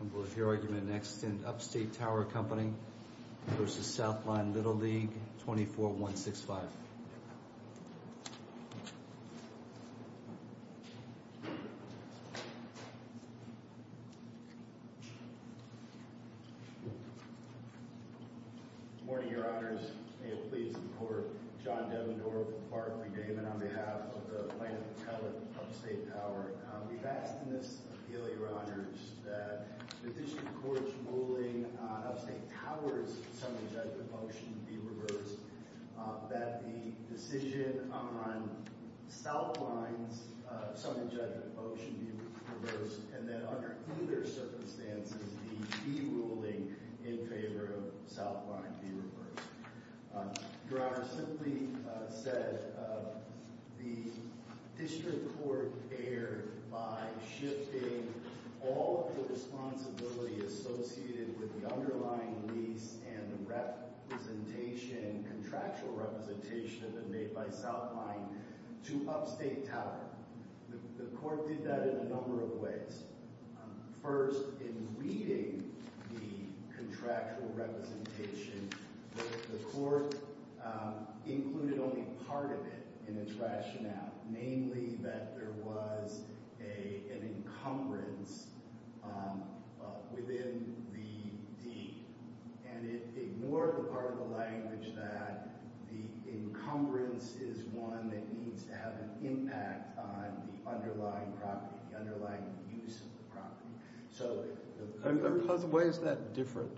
and we'll hear argument next in Upstate Tower Co., LLC v. Southline Little League, 24165. Good morning, Your Honors. May it please the Court, John Devendorf, Barred Redeemment, on behalf of the plaintiff's appellate, Upstate Tower. We've asked in this appeal, Your Honors, that the District Court's ruling on Upstate Tower's summary judgment motion be reversed, that the decision on Southline's summary judgment motion be reversed, and that under either circumstances, the de-ruling in favor of Southline be reversed. Your Honors, simply said, the District Court erred by shifting all of the responsibility associated with the underlying lease and the representation, contractual representation, that had been made by Southline to Upstate Tower. The Court did that in a number of ways. First, in reading the contractual representation, the Court included only part of it in its rationale, namely that there was an encumbrance within the deed, and it ignored the part of the language that the encumbrance is one that needs to have an impact on the underlying property, the underlying use of the property. Why is that different?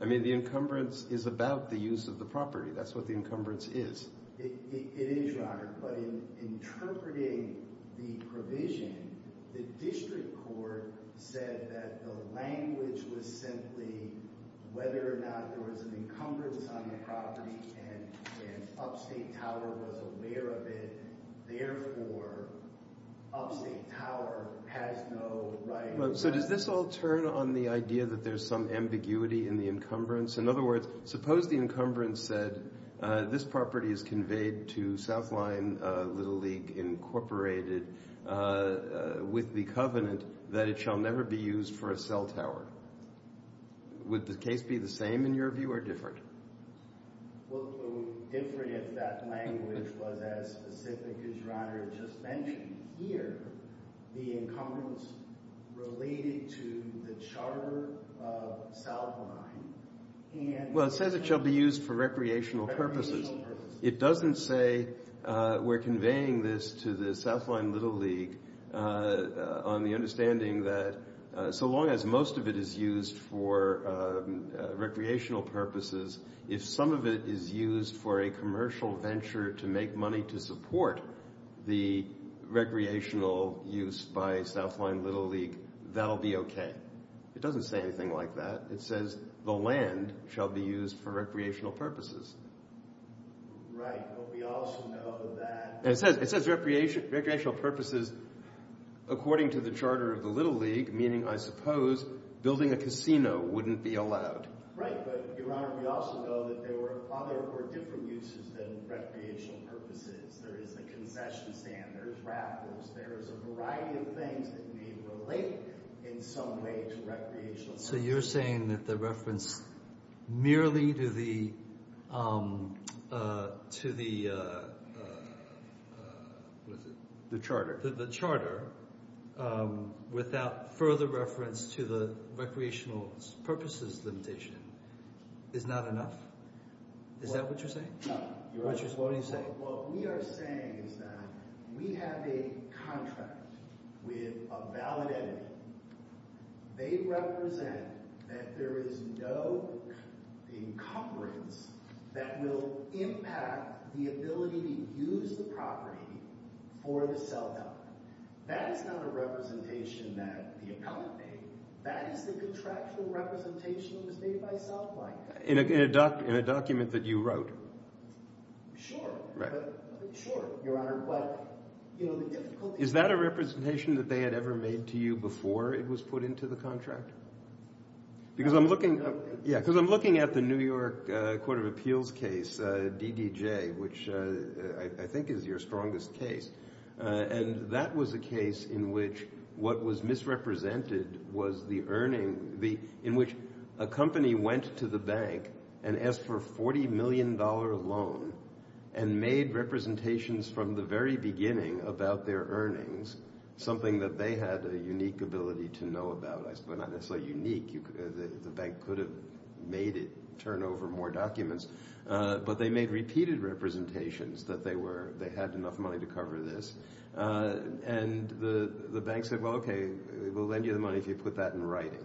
I mean, the encumbrance is about the use of the property. That's what the encumbrance is. It is, Your Honor, but in interpreting the provision, the District Court said that the language was simply whether or not there was an encumbrance on the property and Upstate Tower was aware of it. Therefore, Upstate Tower has no right. So does this all turn on the idea that there's some ambiguity in the encumbrance? In other words, suppose the encumbrance said, this property is conveyed to Southline Little League Incorporated with the covenant that it shall never be used for a cell tower. Would the case be the same, in your view, or different? Well, it would be different if that language was as specific as Your Honor just mentioned here, the encumbrance related to the charter of Southline. Well, it says it shall be used for recreational purposes. It doesn't say we're conveying this to the Southline Little League on the understanding that so long as most of it is used for recreational purposes, if some of it is used for a commercial venture to make money to support the recreational use by Southline Little League, that'll be okay. It doesn't say anything like that. It says the land shall be used for recreational purposes. Right, but we also know that... It says recreational purposes according to the charter of the Little League, meaning, I suppose, building a casino wouldn't be allowed. Right, but Your Honor, we also know that there were other or different uses than recreational purposes. There is the concession stand, there's raffles, there's a variety of things that may relate in some way to recreational purposes. So you're saying that the reference merely to the charter without further reference to the recreational purposes limitation is not enough? Is that what you're saying? What we are saying is that we have a contract with a valid entity. They represent that there is no encumbrance that will impact the ability to use the property for the Southline. That is not a representation that the appellant made. That is the contractual representation that was made by Southline. In a document that you wrote? Sure, Your Honor. Is that a representation that they had ever made to you before it was put into the contract? Because I'm looking at the New York Court of Appeals case, DDJ, which I think is your strongest case. And that was a case in which what was misrepresented was the earning, in which a company went to the bank and asked for a $40 million loan and made representations from the very beginning about their earnings, something that they had a unique ability to know about. Well, not necessarily unique. The bank could have made it, turned over more documents. But they made repeated representations that they had enough money to cover this. And the bank said, well, okay, we'll lend you the money if you put that in writing.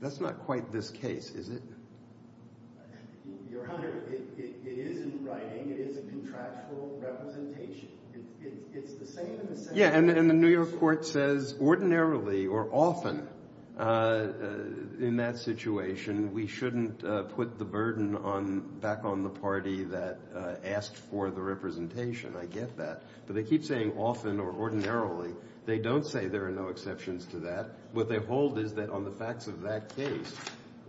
That's not quite this case, is it? Your Honor, it is in writing. It is a contractual representation. Yeah, and the New York Court says ordinarily or often in that situation, we shouldn't put the burden back on the party that asked for the representation. I get that. But they keep saying often or ordinarily. They don't say there are no exceptions to that. What they hold is that on the facts of that case,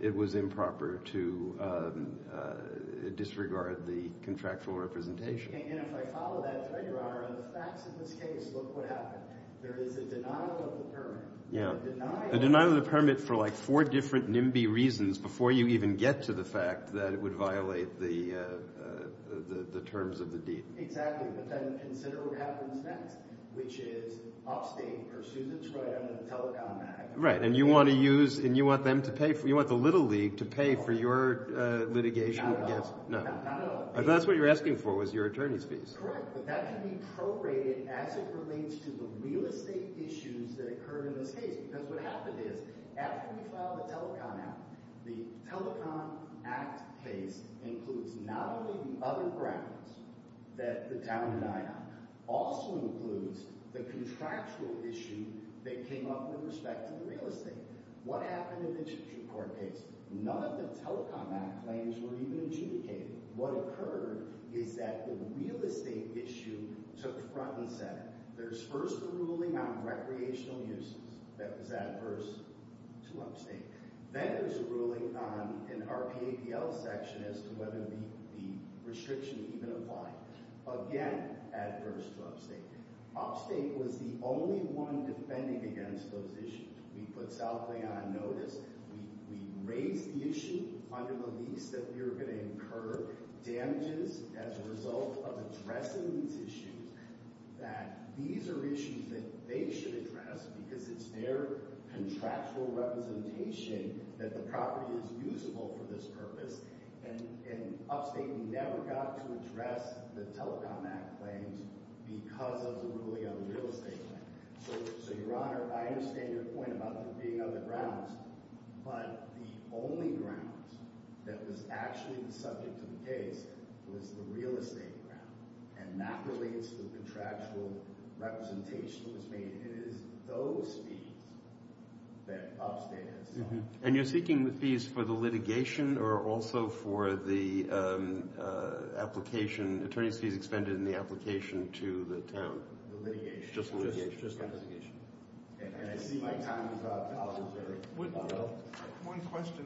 it was improper to disregard the contractual representation. And if I follow that thread, Your Honor, on the facts of this case, look what happened. There is a denial of the permit. Yeah, a denial of the permit for like four different NIMBY reasons before you even get to the fact that it would violate the terms of the deed. Exactly. But then consider what happens next, which is Upstate pursues its right under the Telecom Act. Right, and you want to use – and you want them to pay – you want the Little League to pay for your litigation against – Not at all. That's what you're asking for was your attorney's fees. Correct, but that can be prorated as it relates to the real estate issues that occurred in this case. Because what happened is after we filed the Telecom Act, the Telecom Act case includes not only the other grounds that the town denied, it also includes the contractual issue that came up with respect to the real estate. What happened in the Chichester court case, none of the Telecom Act claims were even adjudicated. What occurred is that the real estate issue took front and center. There's first a ruling on recreational uses that was adverse to Upstate. Then there's a ruling on an RPAPL section as to whether the restriction even applied. Again, adverse to Upstate. Upstate was the only one defending against those issues. We put Southlay on notice. We raised the issue under the lease that we were going to incur damages as a result of addressing these issues, that these are issues that they should address because it's their contractual representation that the property is usable for this purpose. And Upstate never got to address the Telecom Act claims because of the ruling on the real estate claim. So, Your Honor, I understand your point about there being other grounds, but the only ground that was actually the subject of the case was the real estate ground, and that relates to the contractual representation that was made. It is those fees that Upstate has done. And you're seeking the fees for the litigation or also for the application, attorney's fees expended in the application to the town? The litigation. Just litigation. And I see my time is up. One question.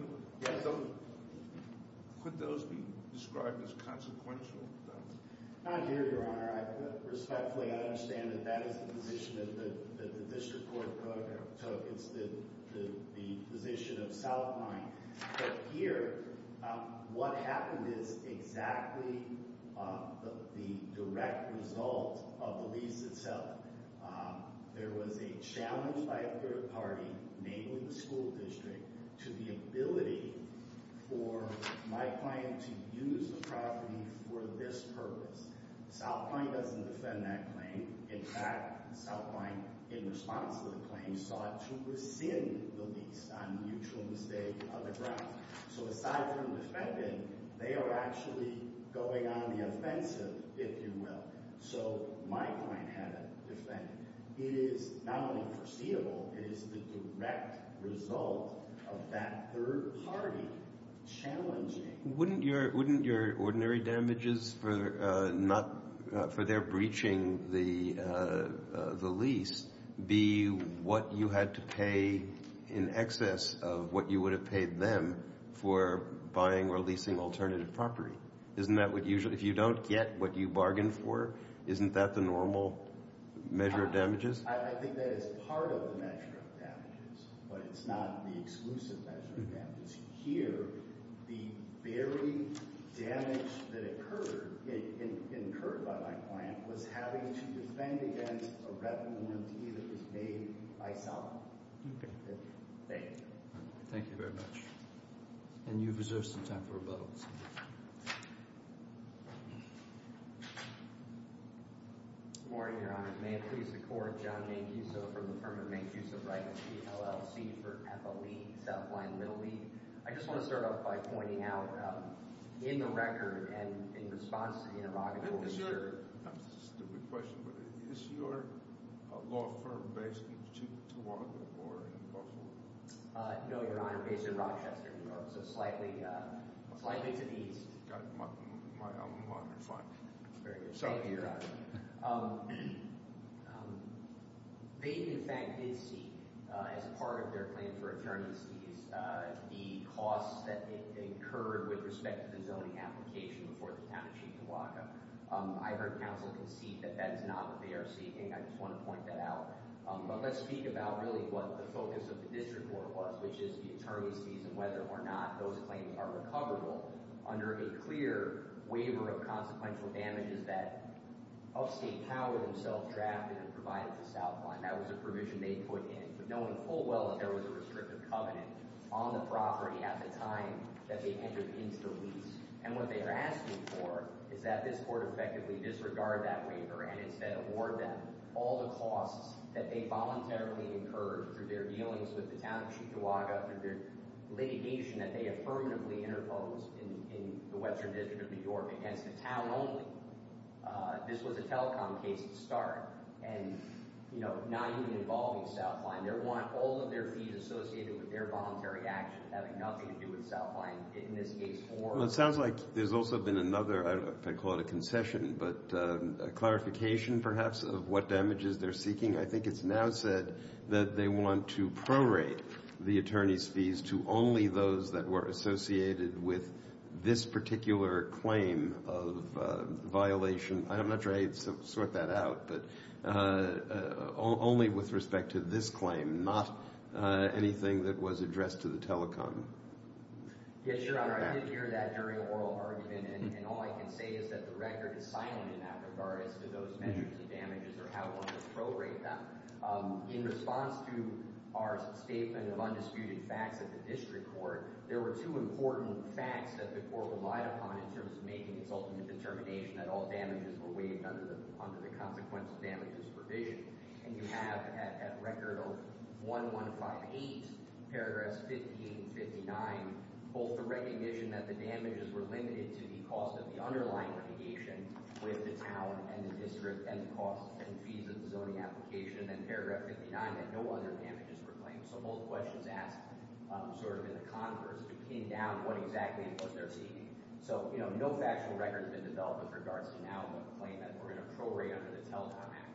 Could those be described as consequential? Not here, Your Honor. Respectfully, I understand that that is the position that the district court took. It's the position of Southline. But here, what happened is exactly the direct result of the lease itself. There was a challenge by a third party, namely the school district, to the ability for my client to use the property for this purpose. Southline doesn't defend that claim. In fact, Southline, in response to the claim, sought to rescind the lease on mutual mistake of the grounds. So aside from defending, they are actually going on the offensive, if you will. So my client had to defend. It is not only foreseeable, it is the direct result of that third party challenging. Wouldn't your ordinary damages for their breaching the lease be what you had to pay in excess of what you would have paid them for buying or leasing alternative property? If you don't get what you bargained for, isn't that the normal measure of damages? I think that is part of the measure of damages, but it's not the exclusive measure of damages. Here, the very damage that occurred by my client was having to defend against a revenue warranty that was made by Southline. Thank you. Thank you very much. And you have reserved some time for rebuttals. Good morning, Your Honor. May it please the Court, John Mancuso from the firm of Mancuso Wright, LLC, for Ethylee, Southline Little League. I just want to start off by pointing out in the record and in response to interrogatory— That's a stupid question, but is your law firm based in Chihuahua or in Buffalo? No, Your Honor, based in Rochester, New York. So slightly to the east. I'm fine. Very good. Thank you, Your Honor. They, in fact, did seek, as part of their claim for attorney's fees, the costs that they incurred with respect to the zoning application before the town of Chihuahua. I heard counsel concede that that is not what they are seeking. I just want to point that out. But let's speak about really what the focus of the district court was, which is the attorney's fees and whether or not those claims are recoverable under a clear waiver of consequential damages that upstate power themselves drafted and provided to Southline. That was a provision they put in, but no one thought well that there was a restrictive covenant on the property at the time that they entered into the lease. And what they are asking for is that this court effectively disregard that waiver and instead award them all the costs that they voluntarily incurred through their dealings with the town of Chihuahua, through their litigation that they affirmatively interposed in the Western District of New York against the town only. This was a telecom case to start, and not even involving Southline. They want all of their fees associated with their voluntary actions having nothing to do with Southline, in this case for… Well, it sounds like there's also been another, I don't know if I'd call it a concession, but a clarification perhaps of what damages they're seeking. I think it's now said that they want to prorate the attorney's fees to only those that were associated with this particular claim of violation. I'm not sure I'd sort that out, but only with respect to this claim, not anything that was addressed to the telecom. Yes, Your Honor, I did hear that during oral argument, and all I can say is that the record is silent in that regard as to those measures of damages or how one would prorate them. In response to our statement of undisputed facts at the district court, there were two important facts that the court relied upon in terms of making its ultimate determination that all damages were waived under the consequences of damages provision. And you have at record 1158, paragraph 1559, both the recognition that the damages were limited to the cost of the underlying litigation with the town and the district and the costs and fees of the zoning application, and paragraph 59 that no other damages were claimed. So both questions asked sort of in a converse to pin down what exactly it was they're seeking. So, you know, no factual record has been developed with regards to now the claim that we're going to prorate under the Telecom Act.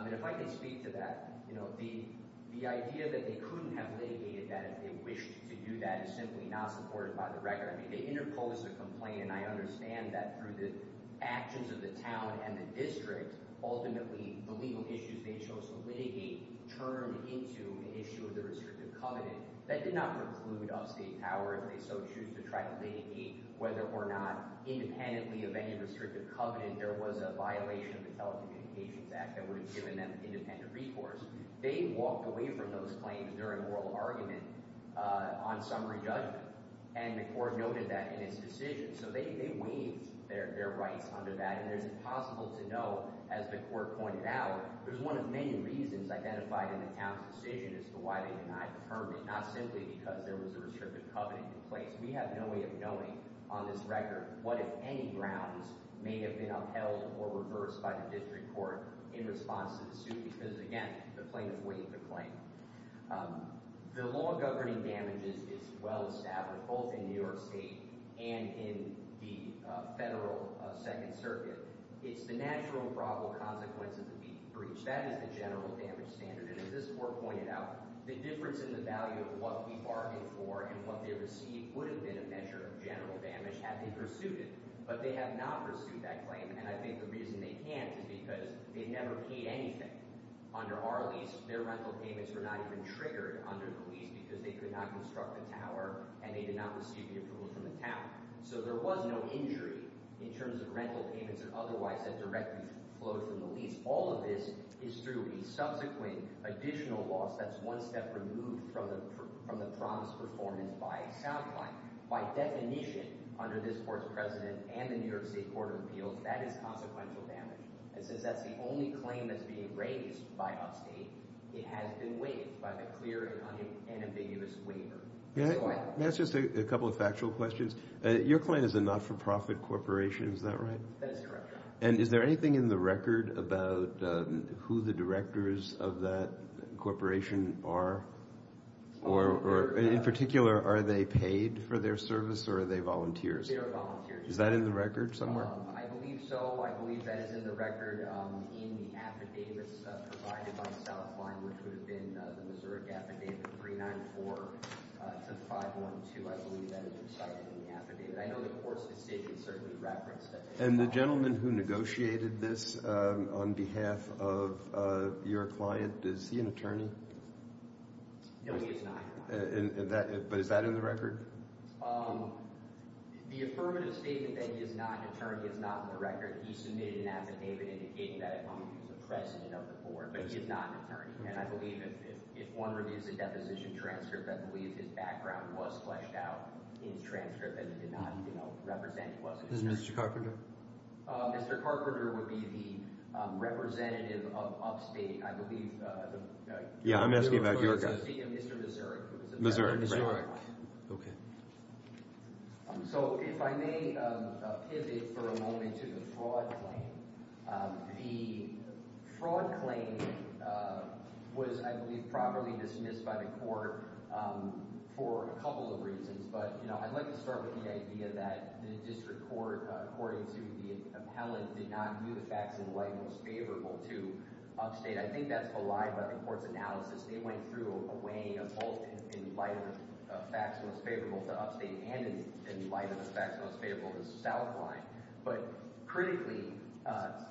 And if I can speak to that, you know, the idea that they couldn't have litigated that if they wished to do that is simply not supported by the record. I mean, they interposed the complaint, and I understand that through the actions of the town and the district, ultimately the legal issues they chose to litigate turned into an issue of the restrictive covenant. That did not preclude upstate power if they so choose to try to litigate, whether or not independently of any restrictive covenant there was a violation of the Telecommunications Act that would have given them independent recourse. They walked away from those claims during oral argument on summary judgment, and the court noted that in its decision. So they waived their rights under that, and it is possible to know, as the court pointed out, there's one of many reasons identified in the town's decision as to why they denied the permit, not simply because there was a restrictive covenant in place. We have no way of knowing on this record what, if any, grounds may have been upheld or reversed by the district court in response to the suit because, again, the plaintiff weighed the claim. The law governing damages is well established both in New York State and in the federal Second Circuit. It's the natural and probable consequences of each breach. That is the general damage standard, and as this court pointed out, the difference in the value of what we bargained for and what they received would have been a measure of general damage had they pursued it. But they have not pursued that claim, and I think the reason they can't is because they never paid anything. Under our lease, their rental payments were not even triggered under the lease because they could not construct the tower and they did not receive the approval from the town. So there was no injury in terms of rental payments and otherwise that directly flowed from the lease. All of this is through a subsequent additional loss that's one step removed from the promised performance by a sound client. By definition, under this court's precedent and the New York State Court of Appeals, that is consequential damage. It says that's the only claim that's being raised by upstate. It has been waived by the clear and unambiguous waiver. Let me ask just a couple of factual questions. Your client is a not-for-profit corporation. Is that right? That is correct, Your Honor. And is there anything in the record about who the directors of that corporation are or, in particular, are they paid for their service or are they volunteers? They are volunteers. Is that in the record somewhere? I believe so. I believe that is in the record in the affidavits provided by the south line, which would have been the Missouri affidavit 394-512. I believe that is recited in the affidavit. I know the court's decision certainly referenced that. And the gentleman who negotiated this on behalf of your client, is he an attorney? No, he is not. But is that in the record? The affirmative statement that he is not an attorney is not in the record. He submitted an affidavit indicating that at one point he was the president of the board, but he is not an attorney. And I believe if one reviews a deposition transcript, I believe his background was fleshed out in the transcript that he did not represent. Is it Mr. Carpenter? Mr. Carpenter would be the representative of upstate, I believe. Yeah, I'm asking about New York. Missouri. Okay. So if I may pivot for a moment to the fraud claim. The fraud claim was, I believe, properly dismissed by the court for a couple of reasons. But, you know, I'd like to start with the idea that the district court, according to the appellate, did not view the facts in light most favorable to upstate. I think that's a lie by the court's analysis. They went through a way of both in light of the facts most favorable to upstate and in light of the facts most favorable to Southline. But critically,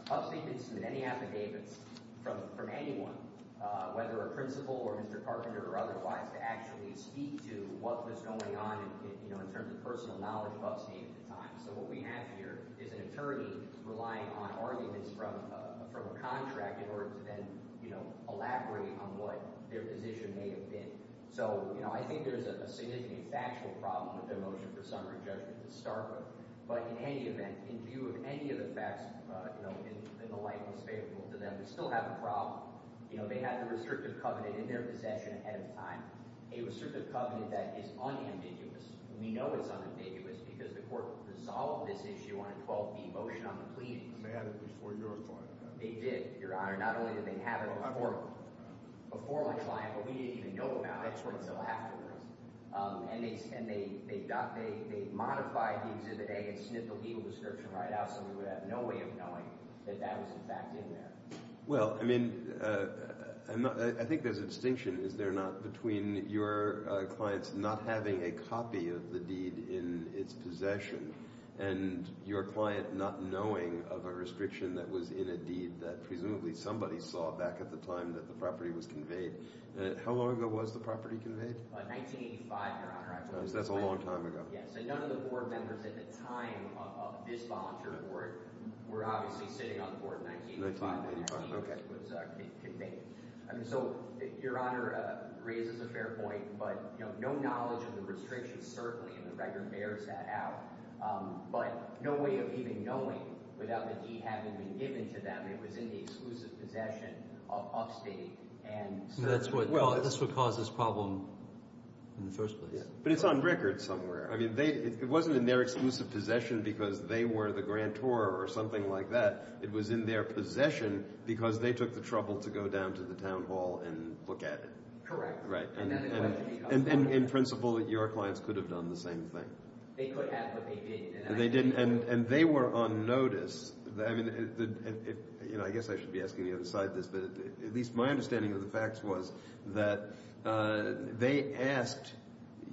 upstate didn't submit any affidavits from anyone, whether a principal or Mr. Carpenter or otherwise, to actually speak to what was going on, you know, in terms of personal knowledge of upstate at the time. So what we have here is an attorney relying on arguments from a contract in order to then, you know, elaborate on what their position may have been. So, you know, I think there's a significant factual problem with their motion for summary judgment to start with. But in any event, in view of any of the facts, you know, in the light most favorable to them, we still have a problem. You know, they had the restrictive covenant in their possession ahead of time, a restrictive covenant that is unambiguous. We know it's unambiguous because the court resolved this issue on a 12-B motion on the plea. And they had it before your client did. They did, Your Honor. Not only did they have it before my client, but we didn't even know about it until afterwards. And they modified the exhibit A and snipped the legal description right out so we would have no way of knowing that that was, in fact, in there. Well, I mean, I think there's a distinction, is there not, between your client's not having a copy of the deed in its possession and your client not knowing of a restriction that was in a deed that presumably somebody saw back at the time that the property was conveyed. How long ago was the property conveyed? 1985, Your Honor. That's a long time ago. Yes, and none of the board members at the time of this volunteer board were obviously sitting on the board in 1985 when the deed was conveyed. So, Your Honor raises a fair point, but no knowledge of the restriction certainly in the record bears that out. But no way of even knowing without the deed having been given to them. It was in the exclusive possession of upstate. That's what caused this problem in the first place. But it's on record somewhere. I mean, it wasn't in their exclusive possession because they were the grantor or something like that. It was in their possession because they took the trouble to go down to the town hall and look at it. Correct. And in principle, your clients could have done the same thing. They could have, but they didn't. And they were on notice. I mean, I guess I should be asking you to decide this, but at least my understanding of the facts was that they asked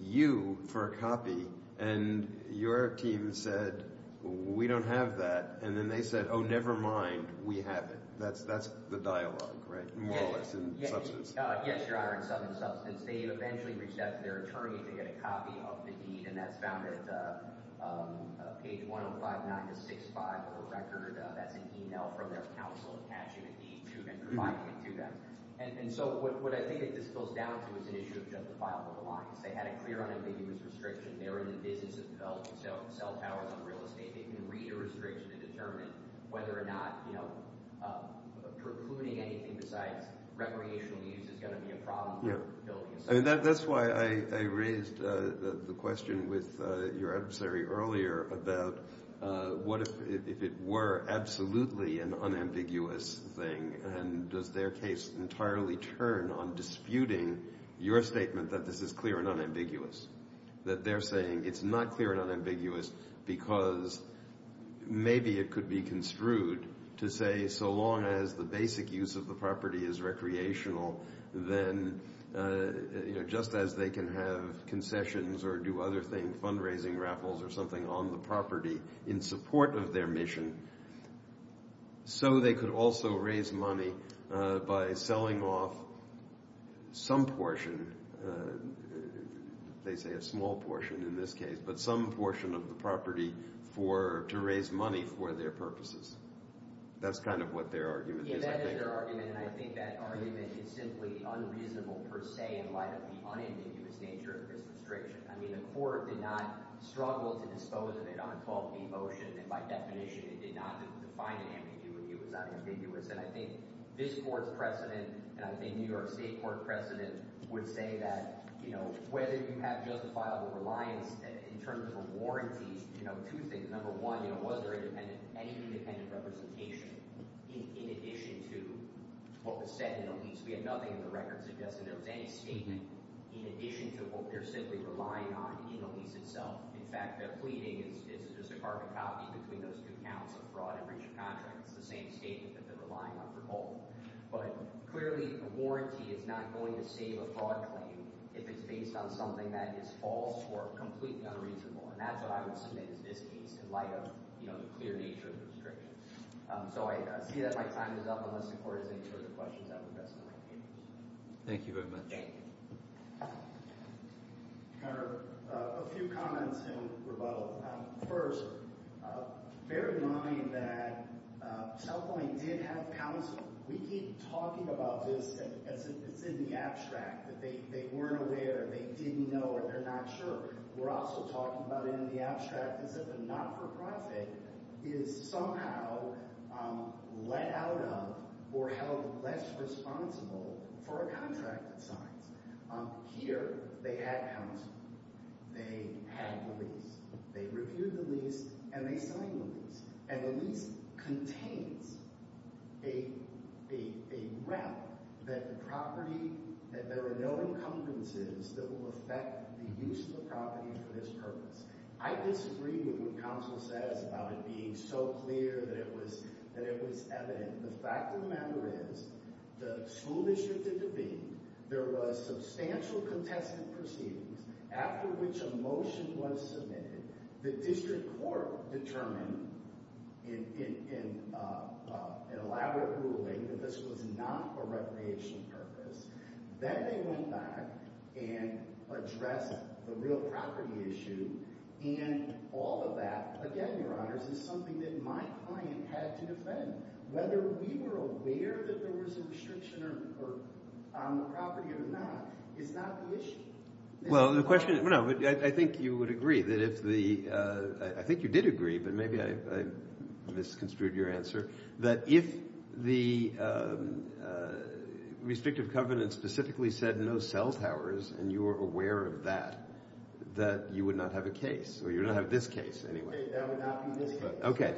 you for a copy, and your team said, we don't have that. And then they said, oh, never mind. We have it. That's the dialogue, right? More or less in substance. Yes, Your Honor, in substance. They eventually reached out to their attorney to get a copy of the deed, and that's found at page 1059 to 65 of the record. That's an email from their counsel attaching a deed to them and providing it to them. And so what I think that this boils down to is an issue of justifiable belongings. They had a clear on it. They knew it was restriction. They were in the business of developing cell towers and real estate. They can read a restriction to determine whether or not precluding anything besides recreational use is going to be a problem. I mean, that's why I raised the question with your adversary earlier about what if it were absolutely an unambiguous thing, and does their case entirely turn on disputing your statement that this is clear and unambiguous? That they're saying it's not clear and unambiguous because maybe it could be construed to say so long as the basic use of the property is recreational, then just as they can have concessions or do other things, fundraising raffles or something on the property in support of their mission, so they could also raise money by selling off some portion, they say a small portion in this case, but some portion of the property to raise money for their purposes. That's kind of what their argument is, I think. I agree with their argument, and I think that argument is simply unreasonable per se in light of the unambiguous nature of this restriction. I mean, the court did not struggle to dispose of it on a 12-P motion, and by definition, it did not define an ambiguity. It was unambiguous. And I think this Court's precedent, and I think New York State Court precedent would say that whether you have justifiable reliance in terms of a warranty, two things. Number one, was there any independent representation in addition to what was said in the lease? We had nothing in the record suggesting there was any statement in addition to what they're simply relying on in the lease itself. In fact, their pleading is just a carbon copy between those two counts of fraud and breach of contract. It's the same statement that they're relying on for both. But clearly, a warranty is not going to save a fraud claim if it's based on something that is false or completely unreasonable. And that's what I would submit as this case in light of the clear nature of the restriction. So I see that my time is up on this report. Is there any further questions? I would invest in my papers. Thank you very much. Thank you. A few comments in rebuttal. First, bear in mind that South Point did have counsel. We keep talking about this as if it's in the abstract, that they weren't aware, they didn't know, or they're not sure. We're also talking about it in the abstract as if a not-for-profit is somehow let out of or held less responsible for a contract that signs. Here, they had counsel. They had the lease. They reviewed the lease, and they signed the lease. And the lease contains a rep that there are no encumbrances that will affect the use of the property for this purpose. I disagree with what counsel says about it being so clear that it was evident. The fact of the matter is the school district did the bidding. There was substantial contested proceedings, after which a motion was submitted. The district court determined in elaborate ruling that this was not a recreation purpose. Then they went back and addressed the real property issue. And all of that, again, Your Honors, is something that my client had to defend. Whether we were aware that there was a restriction on the property or not is not the issue. Well, the question – no, I think you would agree that if the – I think you did agree, but maybe I misconstrued your answer, that if the restrictive covenant specifically said no cell towers and you were aware of that, that you would not have a case. Or you would not have this case anyway. That would not be this case.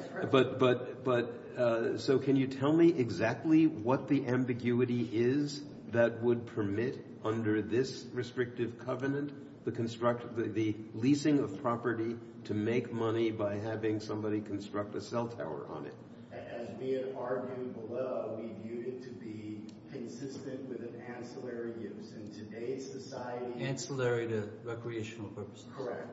So can you tell me exactly what the ambiguity is that would permit, under this restrictive covenant, the leasing of property to make money by having somebody construct a cell tower on it? As we had argued below, we viewed it to be consistent with an ancillary use. In today's society – Ancillary to recreational purposes. Correct.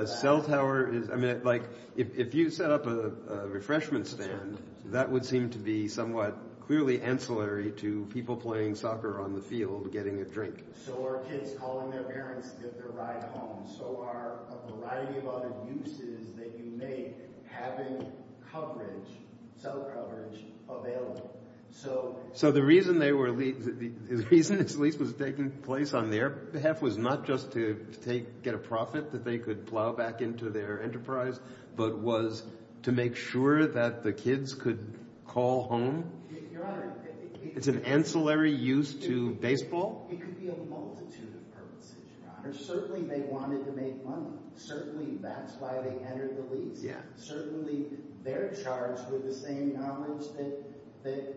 A cell tower is – I mean, like if you set up a refreshment stand, that would seem to be somewhat clearly ancillary to people playing soccer on the field getting a drink. So are kids calling their parents to get their ride home. So are a variety of other uses that you make having coverage, cell coverage, available. So the reason this lease was taking place on their behalf was not just to get a profit that they could plow back into their enterprise, but was to make sure that the kids could call home? Your Honor – It's an ancillary use to baseball? It could be a multitude of purposes, Your Honor. Certainly they wanted to make money. Certainly that's why they entered the lease. Certainly they're charged with the same knowledge that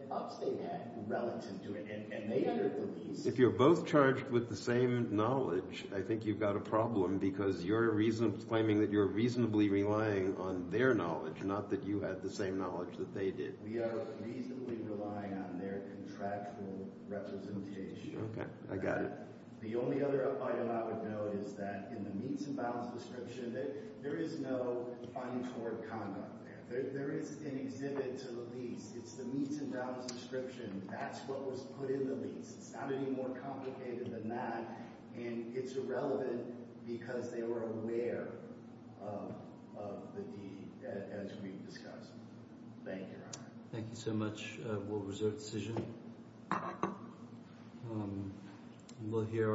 us, they had, relative to it, and they entered the lease. If you're both charged with the same knowledge, I think you've got a problem because you're claiming that you're reasonably relying on their knowledge, not that you had the same knowledge that they did. We are reasonably relying on their contractual representation. Okay, I got it. The only other item I would note is that in the Meats and Bounds description, there is no findings toward conduct there. There is an exhibit to the lease. It's the Meats and Bounds description. That's what was put in the lease. It's not any more complicated than that, and it's irrelevant because they were aware of the deed, as we've discussed. Thank you, Your Honor. Thank you so much. We'll reserve the decision. Thank you.